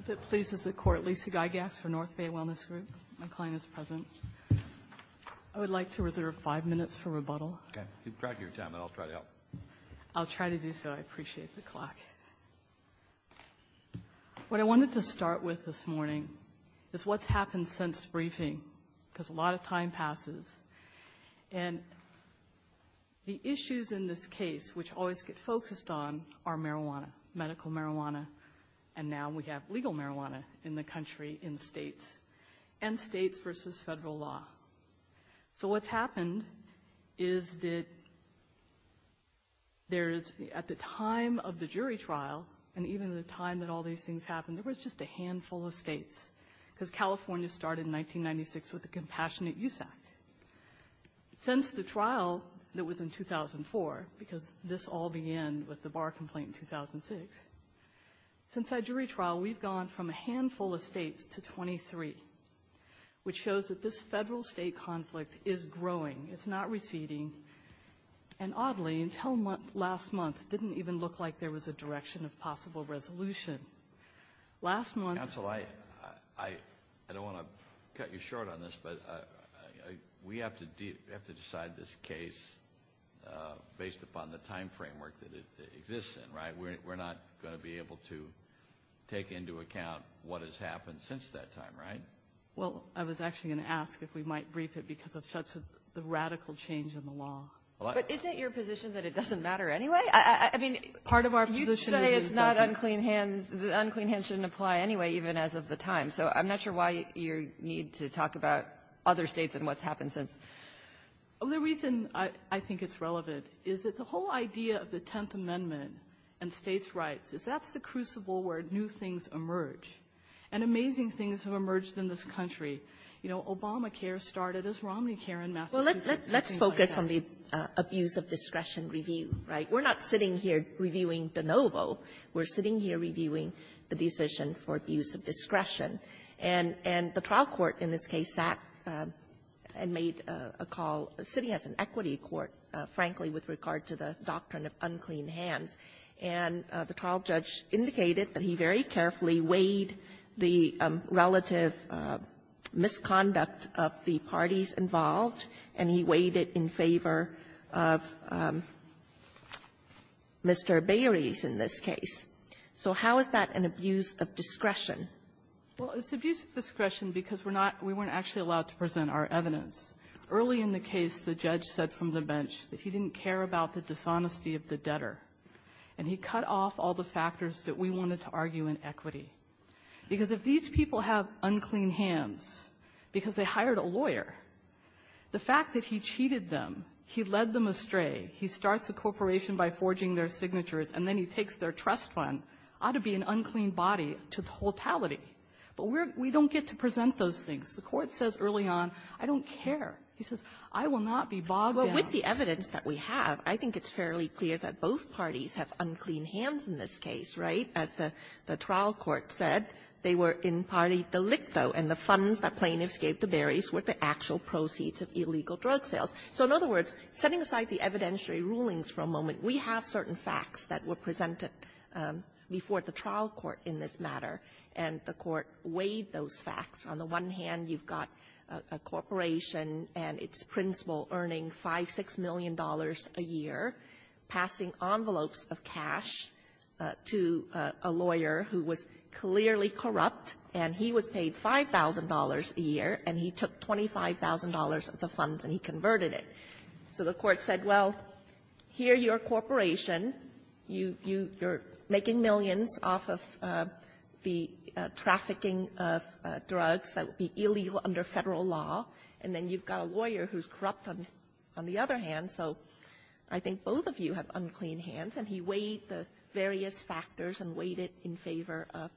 If it pleases the court, Lisa Gygax for Northbay Wellness Group. My client is present. I would like to reserve five minutes for rebuttal. Okay. Keep track of your time and I'll try to help. I'll try to do so. I appreciate the clock. What I wanted to start with this morning is what's happened since briefing because a lot of time passes. And the issues in this case, which always get focused on, are marijuana, medical marijuana, and now we have legal marijuana in the country in states, and states versus federal law. So what's happened is that there is, at the time of the jury trial, and even the time that all these things happened, there was just a handful of states because California started in 1996 with the Compassionate Use Act. Since the trial that was in 2004, because this all began with the bar complaint in 2006, since that jury trial, we've gone from a handful of states to 23, which shows that this federal-state conflict is growing. It's not receding. And oddly, until last month, it didn't even look like there was a direction of possible resolution. Last month... Counsel, I don't want to cut you short on this, but we have to decide this case based upon the time framework that it exists in, right? We're not going to be able to take into account what has happened since that time, right? Well, I was actually going to ask if we might brief it because of such a radical change in the law. But isn't your position that it doesn't matter anyway? The unclean hands shouldn't apply anyway, even as of the time. So I'm not sure why you need to talk about other states and what's happened since. The reason I think it's relevant is that the whole idea of the Tenth Amendment and states' rights is that's the crucible where new things emerge. And amazing things have emerged in this country. You know, Obamacare started as Romneycare in Massachusetts. Well, let's focus on the abuse of discretion review, right? We're not sitting here reviewing de novo. We're sitting here reviewing the decision for abuse of discretion. And the trial court in this case sat and made a call. The city has an equity court, frankly, with regard to the doctrine of unclean hands. And the trial judge indicated that he very carefully weighed the relative misconduct of the parties involved, and he weighed it in favor of Mr. Berry's in this case. So how is that an abuse of discretion? Well, it's abuse of discretion because we're not we weren't actually allowed to present our evidence. Early in the case, the judge said from the bench that he didn't care about the dishonesty of the debtor, and he cut off all the factors that we wanted to argue in equity. Because if these people have unclean hands because they hired a lawyer, the fact that he cheated them, he led them astray, he starts a corporation by forging their signatures, and then he takes their trust fund ought to be an unclean body to totality. But we're we don't get to present those things. The court says early on, I don't care. He says, I will not be bogged down. Well, with the evidence that we have, I think it's fairly clear that both parties have unclean hands in this case, right? As the trial court said, they were in partie delicto, and the funds that plaintiffs gave to Berry's were the actual proceeds of illegal drug sales. So in other words, setting aside the evidentiary rulings for a moment, we have certain facts that were presented before the trial court in this matter, and the court weighed those facts. On the one hand, you've got a corporation and its principal earning $5 million, $6 million a year, passing envelopes of cash to a lawyer who was clearly corrupt, and he was paid $5,000 a year, and he took $25,000 of the funds and he converted it. So the court said, well, here you're a corporation, you're making millions off of the trafficking of drugs that would be illegal under Federal law, and then you've got a lawyer who's corrupt on the other hand, so I think both of you have unclean hands, and he weighed the various factors and weighed it in favor of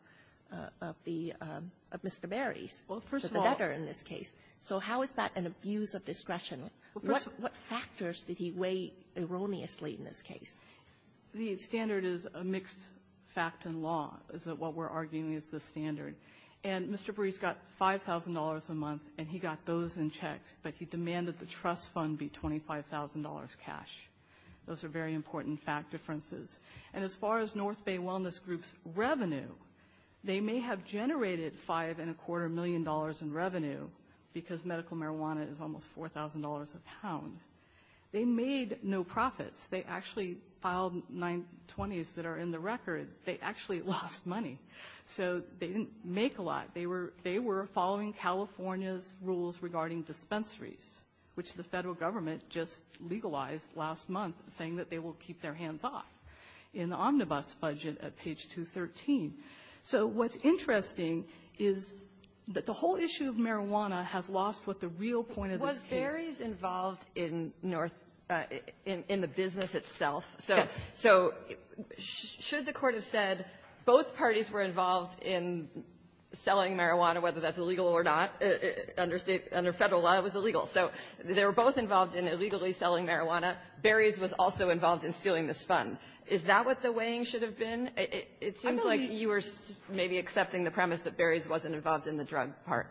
the Mr. Berry's, the debtor in this case. So how is that an abuse of discretion? What factors did he weigh erroneously in this case? The standard is a mixed fact in law, is what we're arguing is the standard. And Mr. Berry's got $5,000 a month, and he got those in checks, but he demanded the trust fund be $25,000 cash. Those are very important fact differences. And as far as North Bay Wellness Group's revenue, they may have generated $5.25 million in revenue because medical marijuana is almost $4,000 a pound. They made no profits. They actually filed 920s that are in the record. They actually lost money, so they didn't make a lot. They were following California's rules regarding dispensaries, which the Federal government just legalized last month, saying that they will keep their hands off in the omnibus budget at page 213. So what's interesting is that the whole issue of marijuana has lost with the real point of this case. Sotomayor's involved in North Bay, in the business itself. So should the Court have said both parties were involved in selling marijuana, whether that's illegal or not, under State or Federal law, it was illegal. So they were both involved in illegally selling marijuana. Berry's was also involved in stealing this fund. Is that what the weighing should have been? It seems like you were maybe accepting the premise that Berry's wasn't involved in the drug part.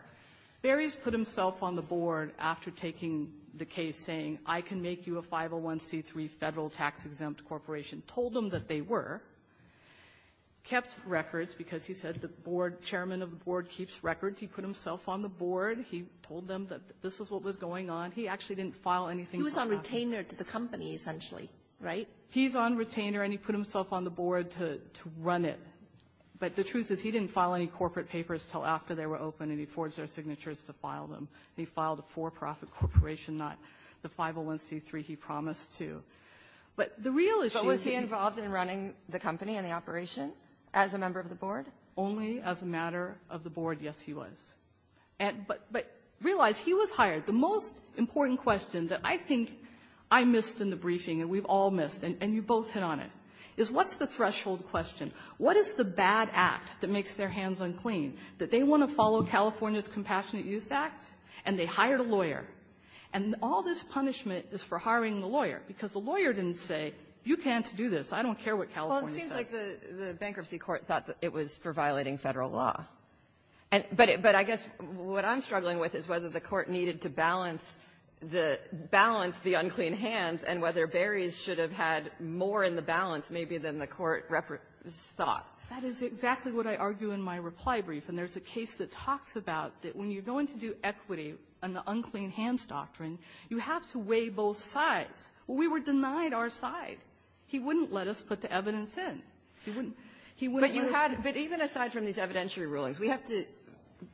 Berry's put himself on the board after taking the case, saying, I can make you a 501c3 Federal tax-exempt corporation, told them that they were, kept records because he said the chairman of the board keeps records. He put himself on the board. He told them that this is what was going on. He actually didn't file anything. He was on retainer to the company, essentially, right? He's on retainer, and he put himself on the board to run it. But the truth is, he didn't file any corporate papers until after they were open, and he forged their signatures to file them. He filed a for-profit corporation, not the 501c3 he promised to. But the real issue is he was hired. But was he involved in running the company and the operation as a member of the board? Only as a matter of the board, yes, he was. But realize, he was hired. The most important question that I think I missed in the briefing, and we've all missed, and you both hit on it, is what's the threshold question? What is the bad act that makes their hands unclean, that they want to follow California's Compassionate Youth Act, and they hired a lawyer? And all this punishment is for hiring the lawyer, because the lawyer didn't say, you can't do this. I don't care what California says. O'Connell. Well, it seems like the bankruptcy court thought that it was for violating Federal law. But I guess what I'm struggling with is whether the court needed to balance the unclean hands and whether Beres should have had more in the balance maybe than the court thought. That is exactly what I argue in my reply brief. And there's a case that talks about that when you're going to do equity on the unclean hands doctrine, you have to weigh both sides. We were denied our side. He wouldn't let us put the evidence in. He wouldn't. He wouldn't let us. But you had to do it, but even aside from these evidentiary rulings, we have to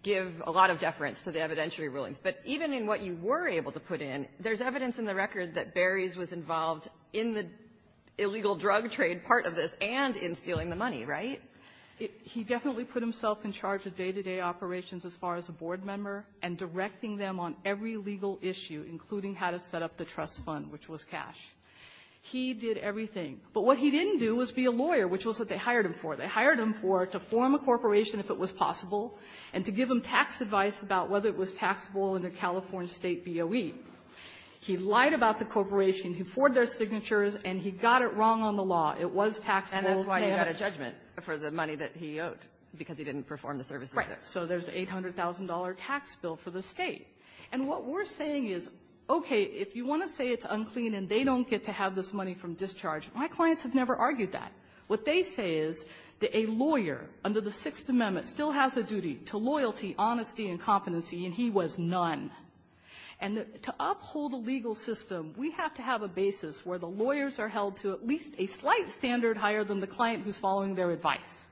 give a lot of deference to the evidentiary rulings. But even in what you were able to put in, there's evidence in the record that Beres was involved in the illegal drug trade part of this and in stealing the money, right? He definitely put himself in charge of day-to-day operations as far as a board member and directing them on every legal issue, including how to set up the trust fund, which was cash. He did everything. But what he didn't do was be a lawyer, which was what they hired him for. They hired him for it, to form a corporation if it was possible and to give him tax advice about whether it was taxable under California State BOE. He lied about the corporation. He forged our signatures. And he got it wrong on the law. It was taxable. And that's why he got a judgment for the money that he owed, because he didn't perform the services there. Right. So there's an $800,000 tax bill for the State. And what we're saying is, okay, if you want to say it's unclean and they don't get to have this money from discharge, my clients have never argued that. What they say is that a lawyer under the Sixth Amendment still has a duty to loyalty, honesty, and competency, and he was none. And to uphold a legal system, we have to have a basis where the lawyers are held to at least a slight standard higher than the client who's following their advice.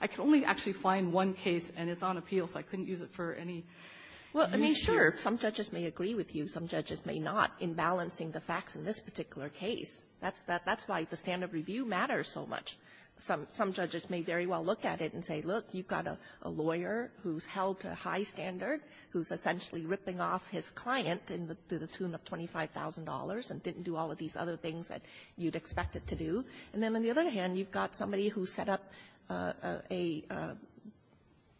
I can only actually find one case, and it's on appeal, so I couldn't use it for any use here. Kagan. Well, I mean, sure, some judges may agree with you. Some judges may not, in balancing the facts in this particular case. That's why the standard review matters so much. Some judges may very well look at it and say, look, you've got a lawyer who's held to a high standard, who's essentially ripping off his client to the tune of $25,000, and didn't do all of these other things that you'd expect it to do. And then on the other hand, you've got somebody who set up a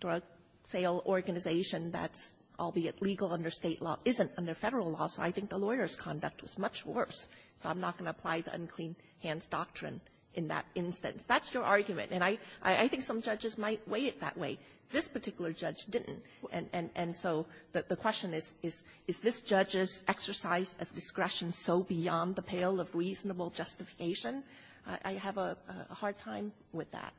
drug sale organization that's, albeit legal under State law, isn't under Federal law, so I think the lawyer's conduct was much worse. So I'm not going to apply the unclean hands doctrine in that instance. That's your argument. And I think some judges might weigh it that way. This particular judge didn't, and so the question is, is this judge's exercise of discretion so beyond the pale of reasonable justification? I have a hard time with that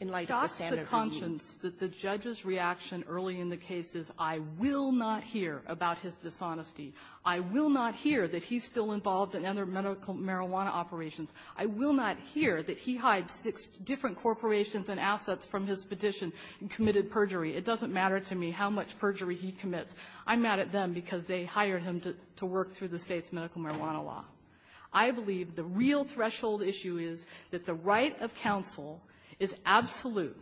in light of the standard review. It costs the conscience that the judge's reaction early in the case is I will not hear about his dishonesty. I will not hear that he's still involved in other medical marijuana operations. I will not hear that he hides six different corporations and assets from his petition and committed perjury. It doesn't matter to me how much perjury he commits. I'm mad at them because they hired him to work through the State's medical marijuana law. I believe the real threshold issue is that the right of counsel is absolute,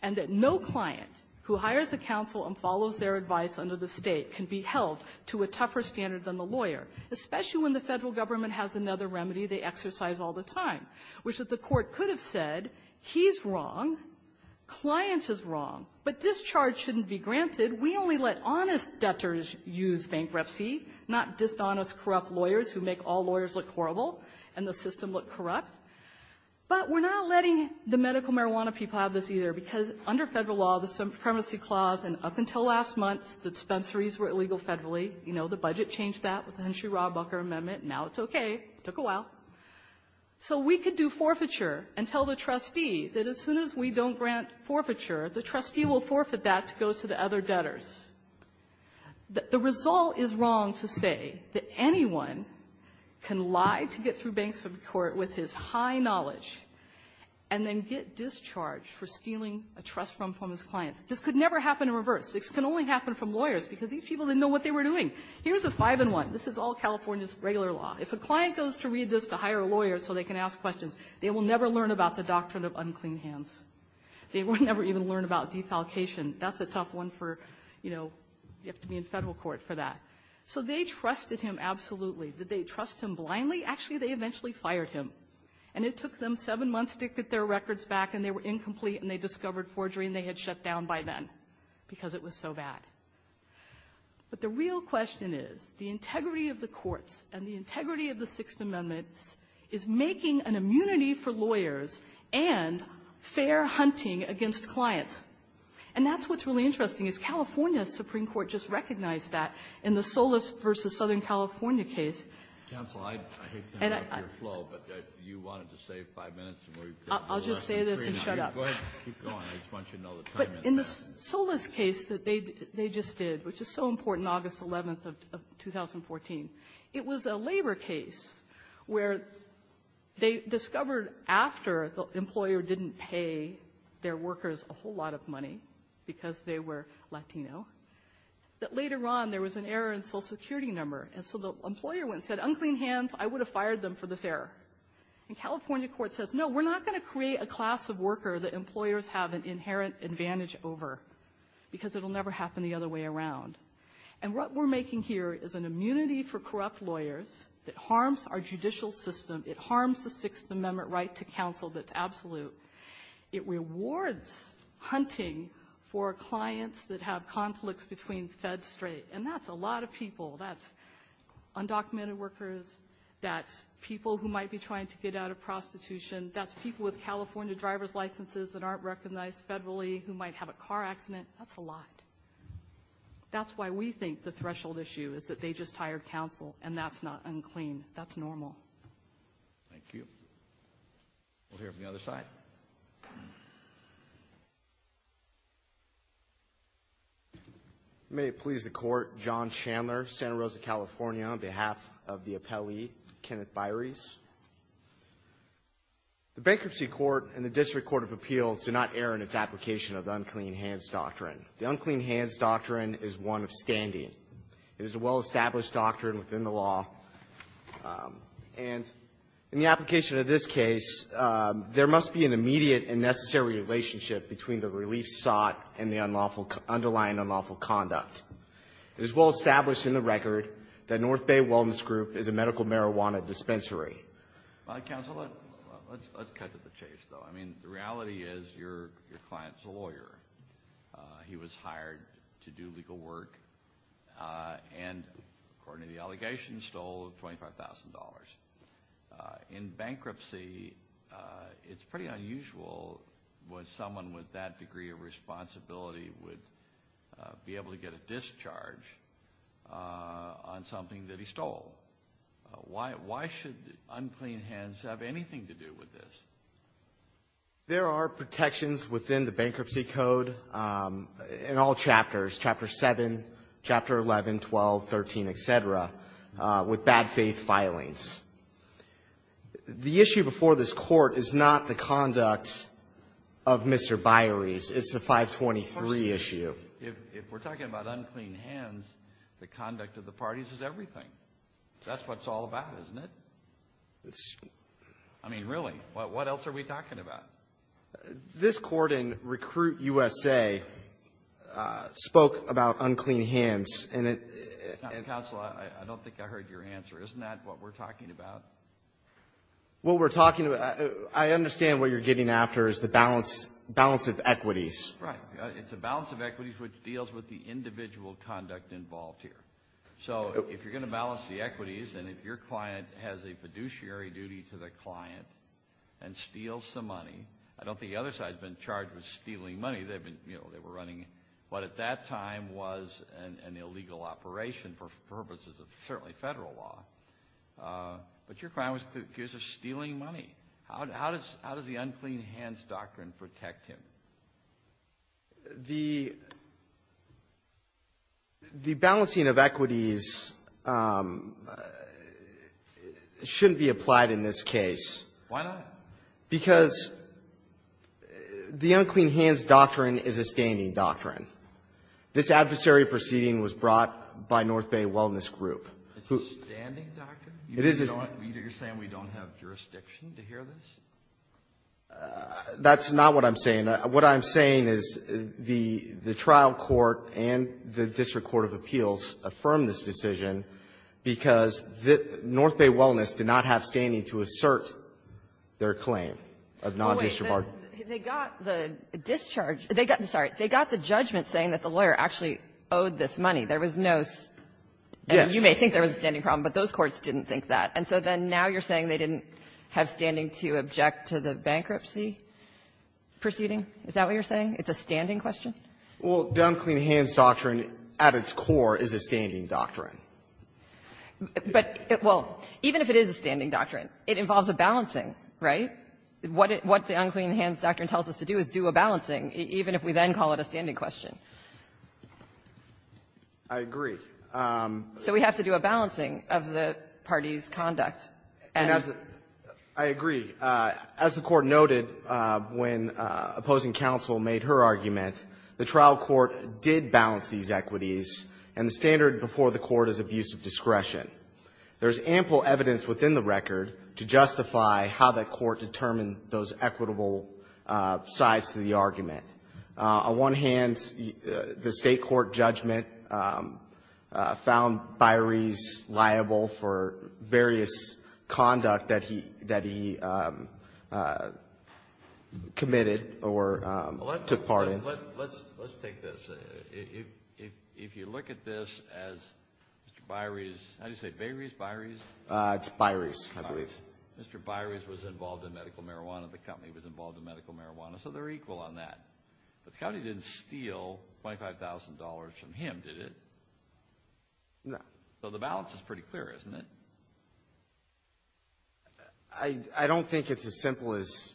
and that no client who hires a counsel and follows their advice under the State can be held to a tougher standard than the lawyer, especially when the Federal government has another remedy they exercise all the time, which is the Court could have said he's wrong, client is wrong, but discharge shouldn't be granted. We only let honest debtors use bankruptcy, not dishonest, corrupt lawyers who make all lawyers look horrible and the system look corrupt, but we're not letting the medical marijuana people have this either, because under Federal law, the Supremacy Clause, and up until last month, the dispensaries were illegal federally. You know, the budget changed that with the Henshaw-Rawbucker Amendment. Now it's okay. It took a while. So we could do forfeiture and tell the trustee that as soon as we don't grant forfeiture, the trustee will forfeit that to go to the other debtors. The result is wrong to say that anyone can lie to get through bankruptcy court with his high knowledge and then get discharged for stealing a trust from his clients. This could never happen in reverse. This can only happen from lawyers, because these people didn't know what they were doing. Here's a five-in-one. This is all California's regular law. If a client goes to read this to hire a lawyer so they can ask questions, they will never learn about the doctrine of unclean hands. They will never even learn about defalcation. That's a tough one for, you know, you have to be in federal court for that. So they trusted him absolutely. Did they trust him blindly? Actually, they eventually fired him, and it took them seven months to get their records back, and they were incomplete, and they discovered forgery, and they had shut down by then, because it was so bad. But the real question is, the integrity of the courts and the integrity of the Sixth Amendment is making an immunity for lawyers and fair hunting against clients. And that's what's really interesting, is California's Supreme Court just recognized that in the Solis v. Southern California case. Kennedy, I hate to interrupt your flow, but you wanted to save five minutes and we've got the rest of the briefing. I'll just say this and shut up. Go ahead. Keep going. I just want you to know the time is passing. The Solis case that they just did, which is so important, August 11th of 2014, it was a labor case where they discovered after the employer didn't pay their workers a whole lot of money, because they were Latino, that later on there was an error in social security number, and so the employer went and said, unclean hands, I would have fired them for this error. And California court says, no, we're not going to create a class of worker that employers have an inherent advantage over, because it'll never happen the other way around. And what we're making here is an immunity for corrupt lawyers that harms our judicial system. It harms the Sixth Amendment right to counsel that's absolute. It rewards hunting for clients that have conflicts between feds straight, and that's a lot of people. That's undocumented workers. That's people who might be trying to get out of prostitution. That's people with California driver's licenses that aren't recognized federally, who might have a car accident. That's a lot. That's why we think the threshold issue is that they just hired counsel, and that's not unclean. That's normal. Thank you. We'll hear from the other side. May it please the court, John Chandler, Santa Rosa, California, on behalf of the appellee, Kenneth Byres. The Bankruptcy Court and the District Court of Appeals do not err in its application of the Unclean Hands Doctrine. The Unclean Hands Doctrine is one of standing. It is a well-established doctrine within the law, and in the application of this case, there must be an immediate and necessary relationship between the relief sought and the underlying unlawful conduct. It is well-established in the record that North Bay Wellness Group is a medical marijuana dispensary. Counsel, let's cut to the chase, though. I mean, the reality is your client's a lawyer. He was hired to do legal work, and according to the allegations, stole $25,000. In bankruptcy, it's pretty unusual when someone with that degree of responsibility would be charged with a discharge on something that he stole. Why should Unclean Hands have anything to do with this? There are protections within the Bankruptcy Code in all chapters, Chapter 7, Chapter 11, 12, 13, et cetera, with bad faith filings. The issue before this Court is not the conduct of Mr. Byres. It's the 523 issue. If we're talking about Unclean Hands, the conduct of the parties is everything. That's what it's all about, isn't it? I mean, really, what else are we talking about? This Court in Recruit USA spoke about Unclean Hands, and it — Counsel, I don't think I heard your answer. Isn't that what we're talking about? What we're talking about — I understand what you're getting after is the balance of equities. Right. It's a balance of equities which deals with the individual conduct involved here. So if you're going to balance the equities, and if your client has a fiduciary duty to the client and steals some money — I don't think the other side has been charged with stealing money. They've been, you know, they were running what at that time was an illegal operation for purposes of certainly federal law. But your client was accused of stealing money. How does the Unclean Hands doctrine protect him? The balancing of equities shouldn't be applied in this case. Why not? Because the Unclean Hands doctrine is a standing doctrine. This adversary proceeding was brought by North Bay Wellness Group. It's a standing doctrine? It is a — You're saying we don't have jurisdiction to hear this? That's not what I'm saying. What I'm saying is the trial court and the district court of appeals affirmed this decision because North Bay Wellness did not have standing to assert their claim of non-discharge. Wait. They got the discharge — sorry. They got the judgment saying that the lawyer actually owed this money. There was no — Yes. I think there was a standing problem, but those courts didn't think that. And so then now you're saying they didn't have standing to object to the bankruptcy proceeding? Is that what you're saying? It's a standing question? Well, the Unclean Hands doctrine at its core is a standing doctrine. But — well, even if it is a standing doctrine, it involves a balancing, right? What the Unclean Hands doctrine tells us to do is do a balancing, even if we then call it a standing question. I agree. So we have to do a balancing of the parties' conduct. And as a — I agree. As the Court noted when opposing counsel made her argument, the trial court did balance these equities, and the standard before the court is abuse of discretion. There's ample evidence within the record to justify how that court determined those equitable sides to the argument. On one hand, the State court judgment found Baires liable for various conduct that he committed or took part in. Let's take this. If you look at this as Mr. Baires — how do you say it, Baires, Baires? It's Baires, I believe. Mr. Baires was involved in medical marijuana. The company was involved in medical marijuana. So they're equal on that. But the company didn't steal $25,000 from him, did it? No. So the balance is pretty clear, isn't it? I don't think it's as simple as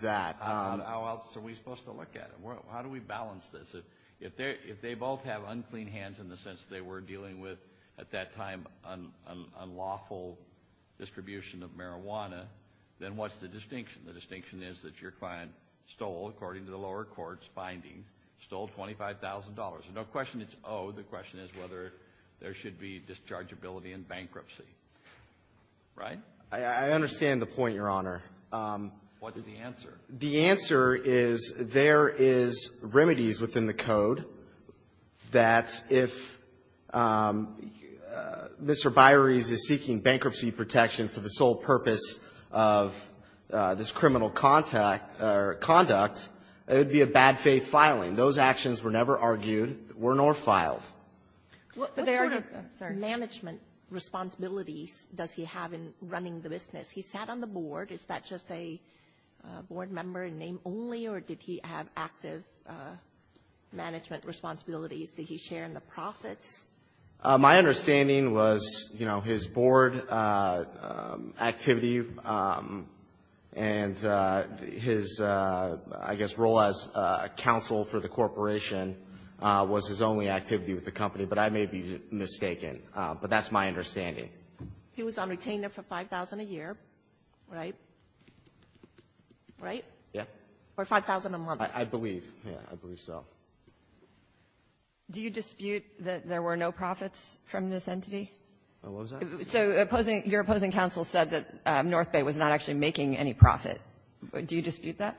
that. How else are we supposed to look at it? How do we balance this? If they both have Unclean Hands in the sense they were dealing with, at that time, unlawful distribution of marijuana, then what's the distinction? The distinction is that your client stole, according to the lower court's finding, stole $25,000. There's no question it's owed. The question is whether there should be dischargeability in bankruptcy, right? I understand the point, Your Honor. What's the answer? The answer is there is remedies within the code that if Mr. Baires is seeking bankruptcy protection for the sole purpose of this criminal conduct, it would be a bad faith filing. Those actions were never argued, were nor filed. What sort of management responsibilities does he have in running the business? He sat on the board. Is that just a board member and name only, or did he have active management responsibilities that he shared in the profits? My understanding was, you know, his board activity and his, I guess, role as a counsel for the corporation was his only activity with the company, but I may be mistaken. But that's my understanding. He was on retainer for $5,000 a year, right? Right? Yeah. Or $5,000 a month. I believe. Yeah. I believe so. Do you dispute that there were no profits from this entity? What was that? So opposing your opposing counsel said that North Bay was not actually making any profit. Do you dispute that?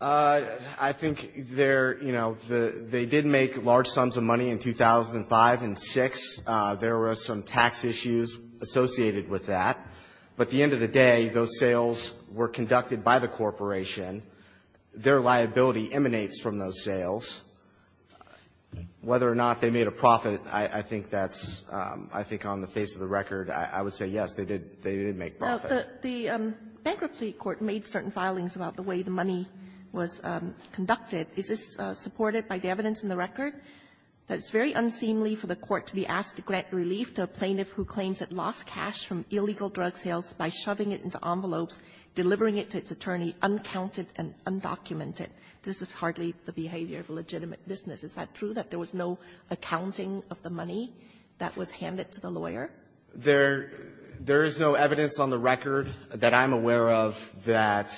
I think there, you know, they did make large sums of money in 2005 and 2006. There were some tax issues associated with that. But at the end of the day, those sales were conducted by the corporation. Their liability emanates from those sales. Whether or not they made a profit, I think that's, I think on the face of the record, I would say, yes, they did make profit. The bankruptcy court made certain filings about the way the money was conducted. Is this supported by the evidence in the record? That it's very unseemly for the court to be asked to grant relief to a plaintiff who claims it lost cash from illegal drug sales by shoving it into envelopes, delivering it to its attorney, uncounted and undocumented. This is hardly the behavior of a legitimate business. Is that true, that there was no accounting of the money that was handed to the lawyer? There is no evidence on the record that I'm aware of that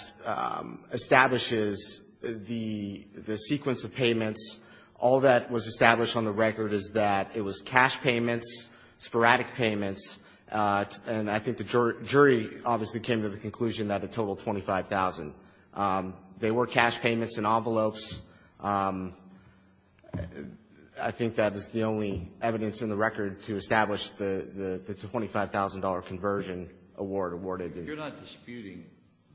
establishes the sequence of payments. All that was established on the record is that it was cash payments, sporadic payments, and I think the jury obviously came to the conclusion that it totaled $25,000. They were cash payments in envelopes. I think that is the only evidence in the record to establish that it's a $25,000 conversion award awarded. You're not disputing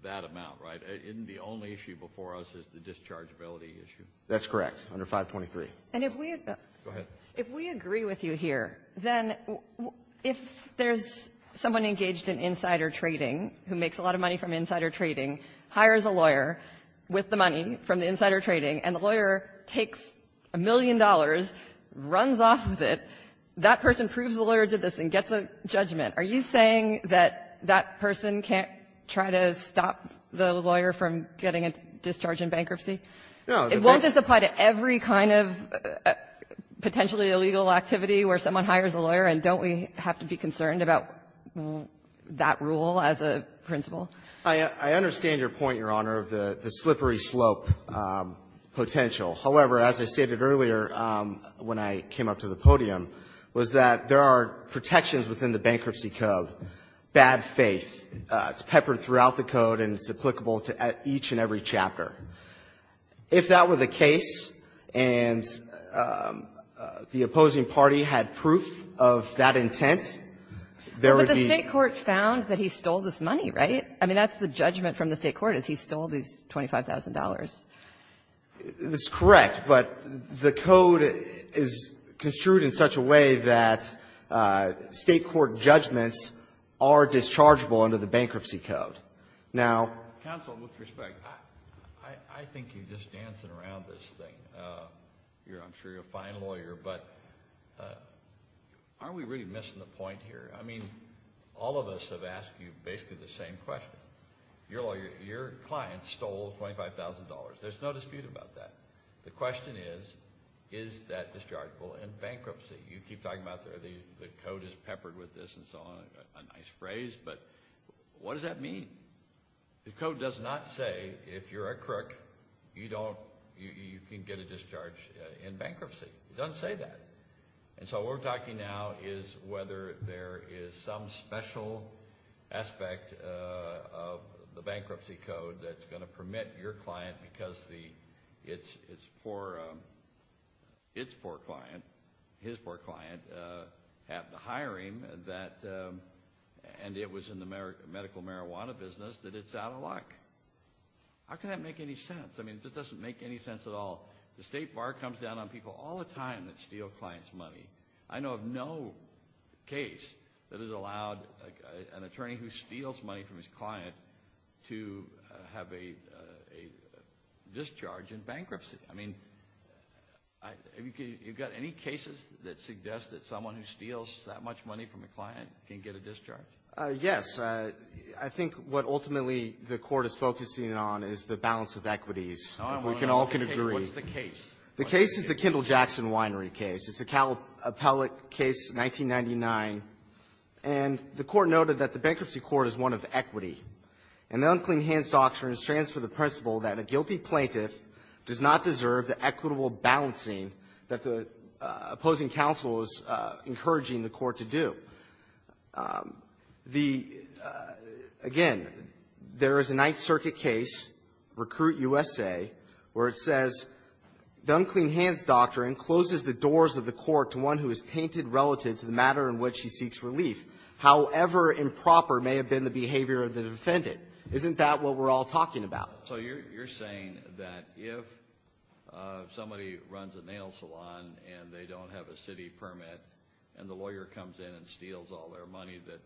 that amount, right? Isn't the only issue before us is the dischargeability issue? That's correct, under 523. And if we agree with you here, then if there's someone engaged in insider trading who makes a lot of money from insider trading, hires a lawyer with the money from the insider trading, and the lawyer takes a million dollars, runs off with it, that person proves the lawyer did this and gets a judgment, are you saying that that person can't try to stop the lawyer from getting a discharge in bankruptcy? It won't just apply to every kind of potentially illegal activity where someone I understand your point, Your Honor, of the slippery slope potential. However, as I stated earlier when I came up to the podium, was that there are protections within the Bankruptcy Code, bad faith. It's peppered throughout the Code, and it's applicable to each and every chapter. If that were the case, and the opposing party had proof of that intent, there would The State court found that he stole this money, right? I mean, that's the judgment from the State court, is he stole these $25,000. That's correct, but the Code is construed in such a way that State court judgments are dischargeable under the Bankruptcy Code. Now ---- Counsel, with respect, I think you're just dancing around this thing. I'm sure you're a fine lawyer, but aren't we really missing the point here? I mean, all of us have asked you basically the same question. Your client stole $25,000. There's no dispute about that. The question is, is that dischargeable in bankruptcy? You keep talking about the Code is peppered with this and so on. A nice phrase, but what does that mean? The Code does not say if you're a crook, you can get a discharge in bankruptcy. It doesn't say that. What we're talking now is whether there is some special aspect of the Bankruptcy Code that's going to permit your client, because it's poor client, his poor client, had the hiring and it was in the medical marijuana business, that it's out of luck. How can that make any sense? I mean, it doesn't make any sense at all. The State Bar comes down on people all the time that steal clients' money. I know of no case that has allowed an attorney who steals money from his client to have a discharge in bankruptcy. I mean, have you got any cases that suggest that someone who steals that much money from a client can get a discharge? Yes. I think what ultimately the Court is focusing on is the balance of equities. If we can all can agree. What's the case? The case is the Kendall-Jackson Winery case. It's a appellate case, 1999, and the Court noted that the Bankruptcy Court is one of equity, and the unclean hands doctrine stands for the principle that a guilty plaintiff does not deserve the equitable balancing that the opposing counsel is encouraging the Court to do. Again, there is a Ninth Circuit case, Recruit U.S.A., where it says the unclean hands doctrine closes the doors of the Court to one who is tainted relative to the matter in which he seeks relief, however improper may have been the behavior of the defendant. Isn't that what we're all talking about? So you're saying that if somebody runs a nail salon and they don't have a city permit and the lawyer comes in and steals all their money, that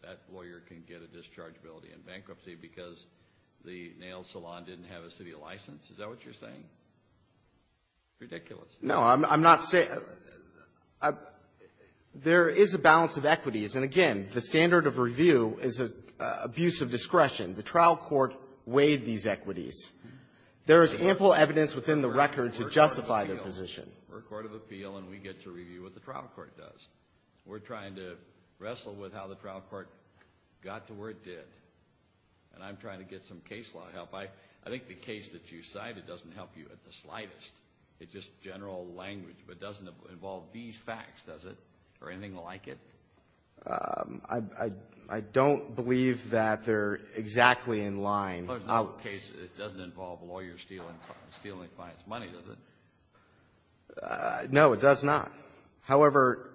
that lawyer can get a discharge ability in bankruptcy because the nail salon didn't have a city license? Is that what you're saying? Ridiculous. No, I'm not saying that. There is a balance of equities, and again, the standard of review is abuse of discretion. The trial court weighed these equities. There is ample evidence within the record to justify their position. We're a court of appeal, and we get to review what the trial court does. We're trying to wrestle with how the trial court got to where it did, and I'm trying to get some case law help. I think the case that you cite, it doesn't help you at the slightest. It's just general language, but it doesn't involve these facts, does it? Or anything like it? I don't believe that they're exactly in line. It doesn't involve lawyers stealing clients' money, does it? No, it does not. However,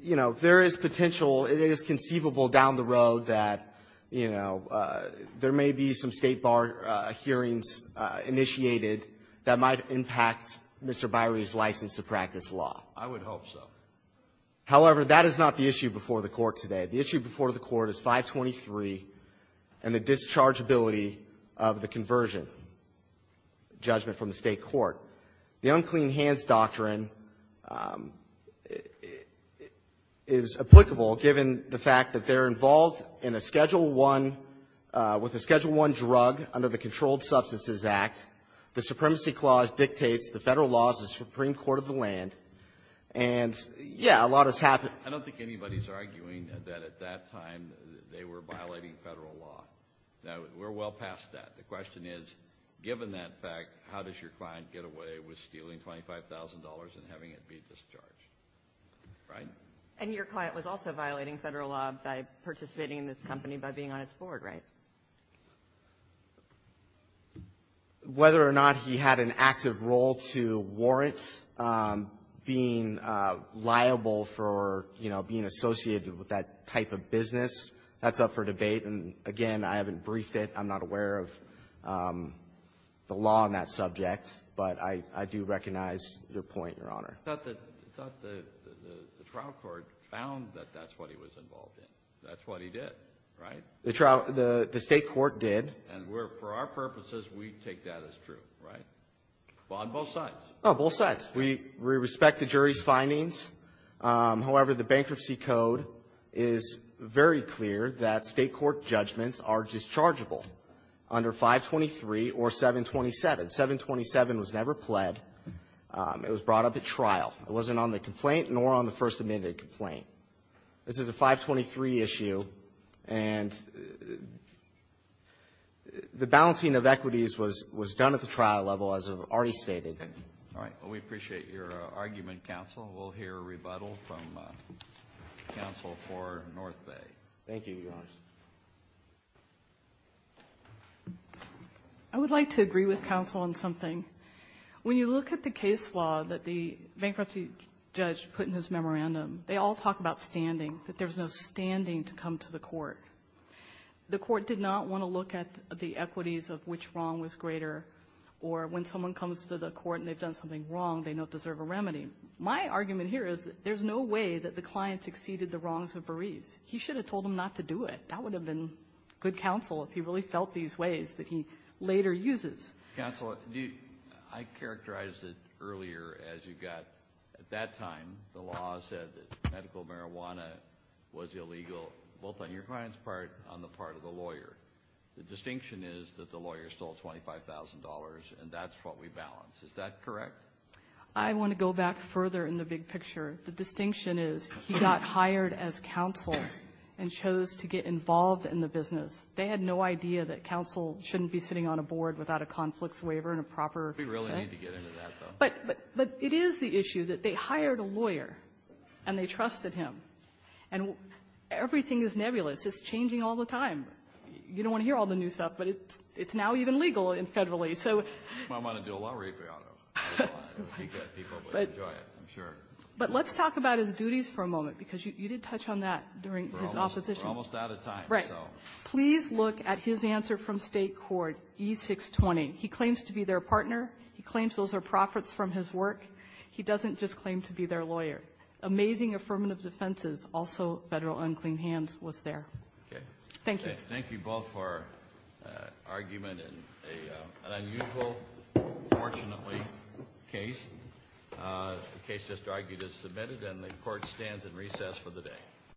you know, there is potential. It is conceivable down the road that, you know, there may be some State bar hearings initiated that might impact Mr. Byrie's license to practice law. I would hope so. However, that is not the issue before the Court today. The issue before the Court is 523 and the dischargeability of the conversion judgment from the State court. The unclean hands doctrine is applicable given the fact that they're involved in a Schedule I, with a Schedule I drug under the Controlled Substances Act. The Supremacy Clause dictates the Federal laws of the Supreme Court of the land. And, yeah, a lot has happened. I don't think anybody's arguing that at that time they were violating Federal law. No, we're well past that. The question is, given that fact, how does your client get away with stealing $25,000 and having it be discharged, right? And your client was also violating Federal law by participating in this company by being on its board, right? Whether or not he had an active role to warrant being liable for, you know, being associated with that type of business, that's up for debate. And, again, I haven't briefed it. I'm not aware of the law on that subject. But I do recognize your point, Your Honor. I thought the trial court found that that's what he was involved in. That's what he did, right? The state court did. And for our purposes, we take that as true, right? On both sides. On both sides. We respect the jury's findings. However, the Bankruptcy Code is very clear that State court judgments are dischargeable under 523 or 727. 727 was never pled. It was brought up at trial. It wasn't on the complaint nor on the First Amendment complaint. This is a 523 issue. And the balancing of equities was done at the trial level, as I've already stated. All right. Well, we appreciate your argument, counsel. We'll hear a rebuttal from counsel for North Bay. Thank you, Your Honor. I would like to agree with counsel on something. When you look at the case law that the bankruptcy judge put in his memorandum, they all talk about standing, that there's no standing to come to the court. The court did not want to look at the equities of which wrong was greater or when someone comes to the court and they've done something wrong, they don't deserve a remedy. My argument here is that there's no way that the client succeeded the wrongs of Berese. He should have told him not to do it. That would have been good counsel if he really felt these ways that he later uses. Counsel, I characterized it earlier as you've got, at that time, the law said that medical marijuana was illegal, both on your client's part and on the part of the lawyer. The distinction is that the lawyer stole $25,000, and that's what we balance. Is that correct? I want to go back further in the big picture. The distinction is he got hired as counsel and chose to get involved in the business. They had no idea that counsel shouldn't be sitting on a board without a conflicts waiver and a proper consent. We really need to get into that, though. But it is the issue that they hired a lawyer and they trusted him. And everything is nebulous. It's changing all the time. You don't want to hear all the new stuff, but it's now even legal federally. You might want to do a law review on it. I'm sure. But let's talk about his duties for a moment, because you did touch on that during his opposition. We're almost out of time. Right. Please look at his answer from state court, E620. He claims to be their partner. He claims those are profits from his work. He doesn't just claim to be their lawyer. Amazing affirmative defenses. Also, federal unclean hands was there. Okay. Thank you. Thank you both for argument in an unusual, fortunately, case. The case just argued is submitted, and the court stands in recess for the day.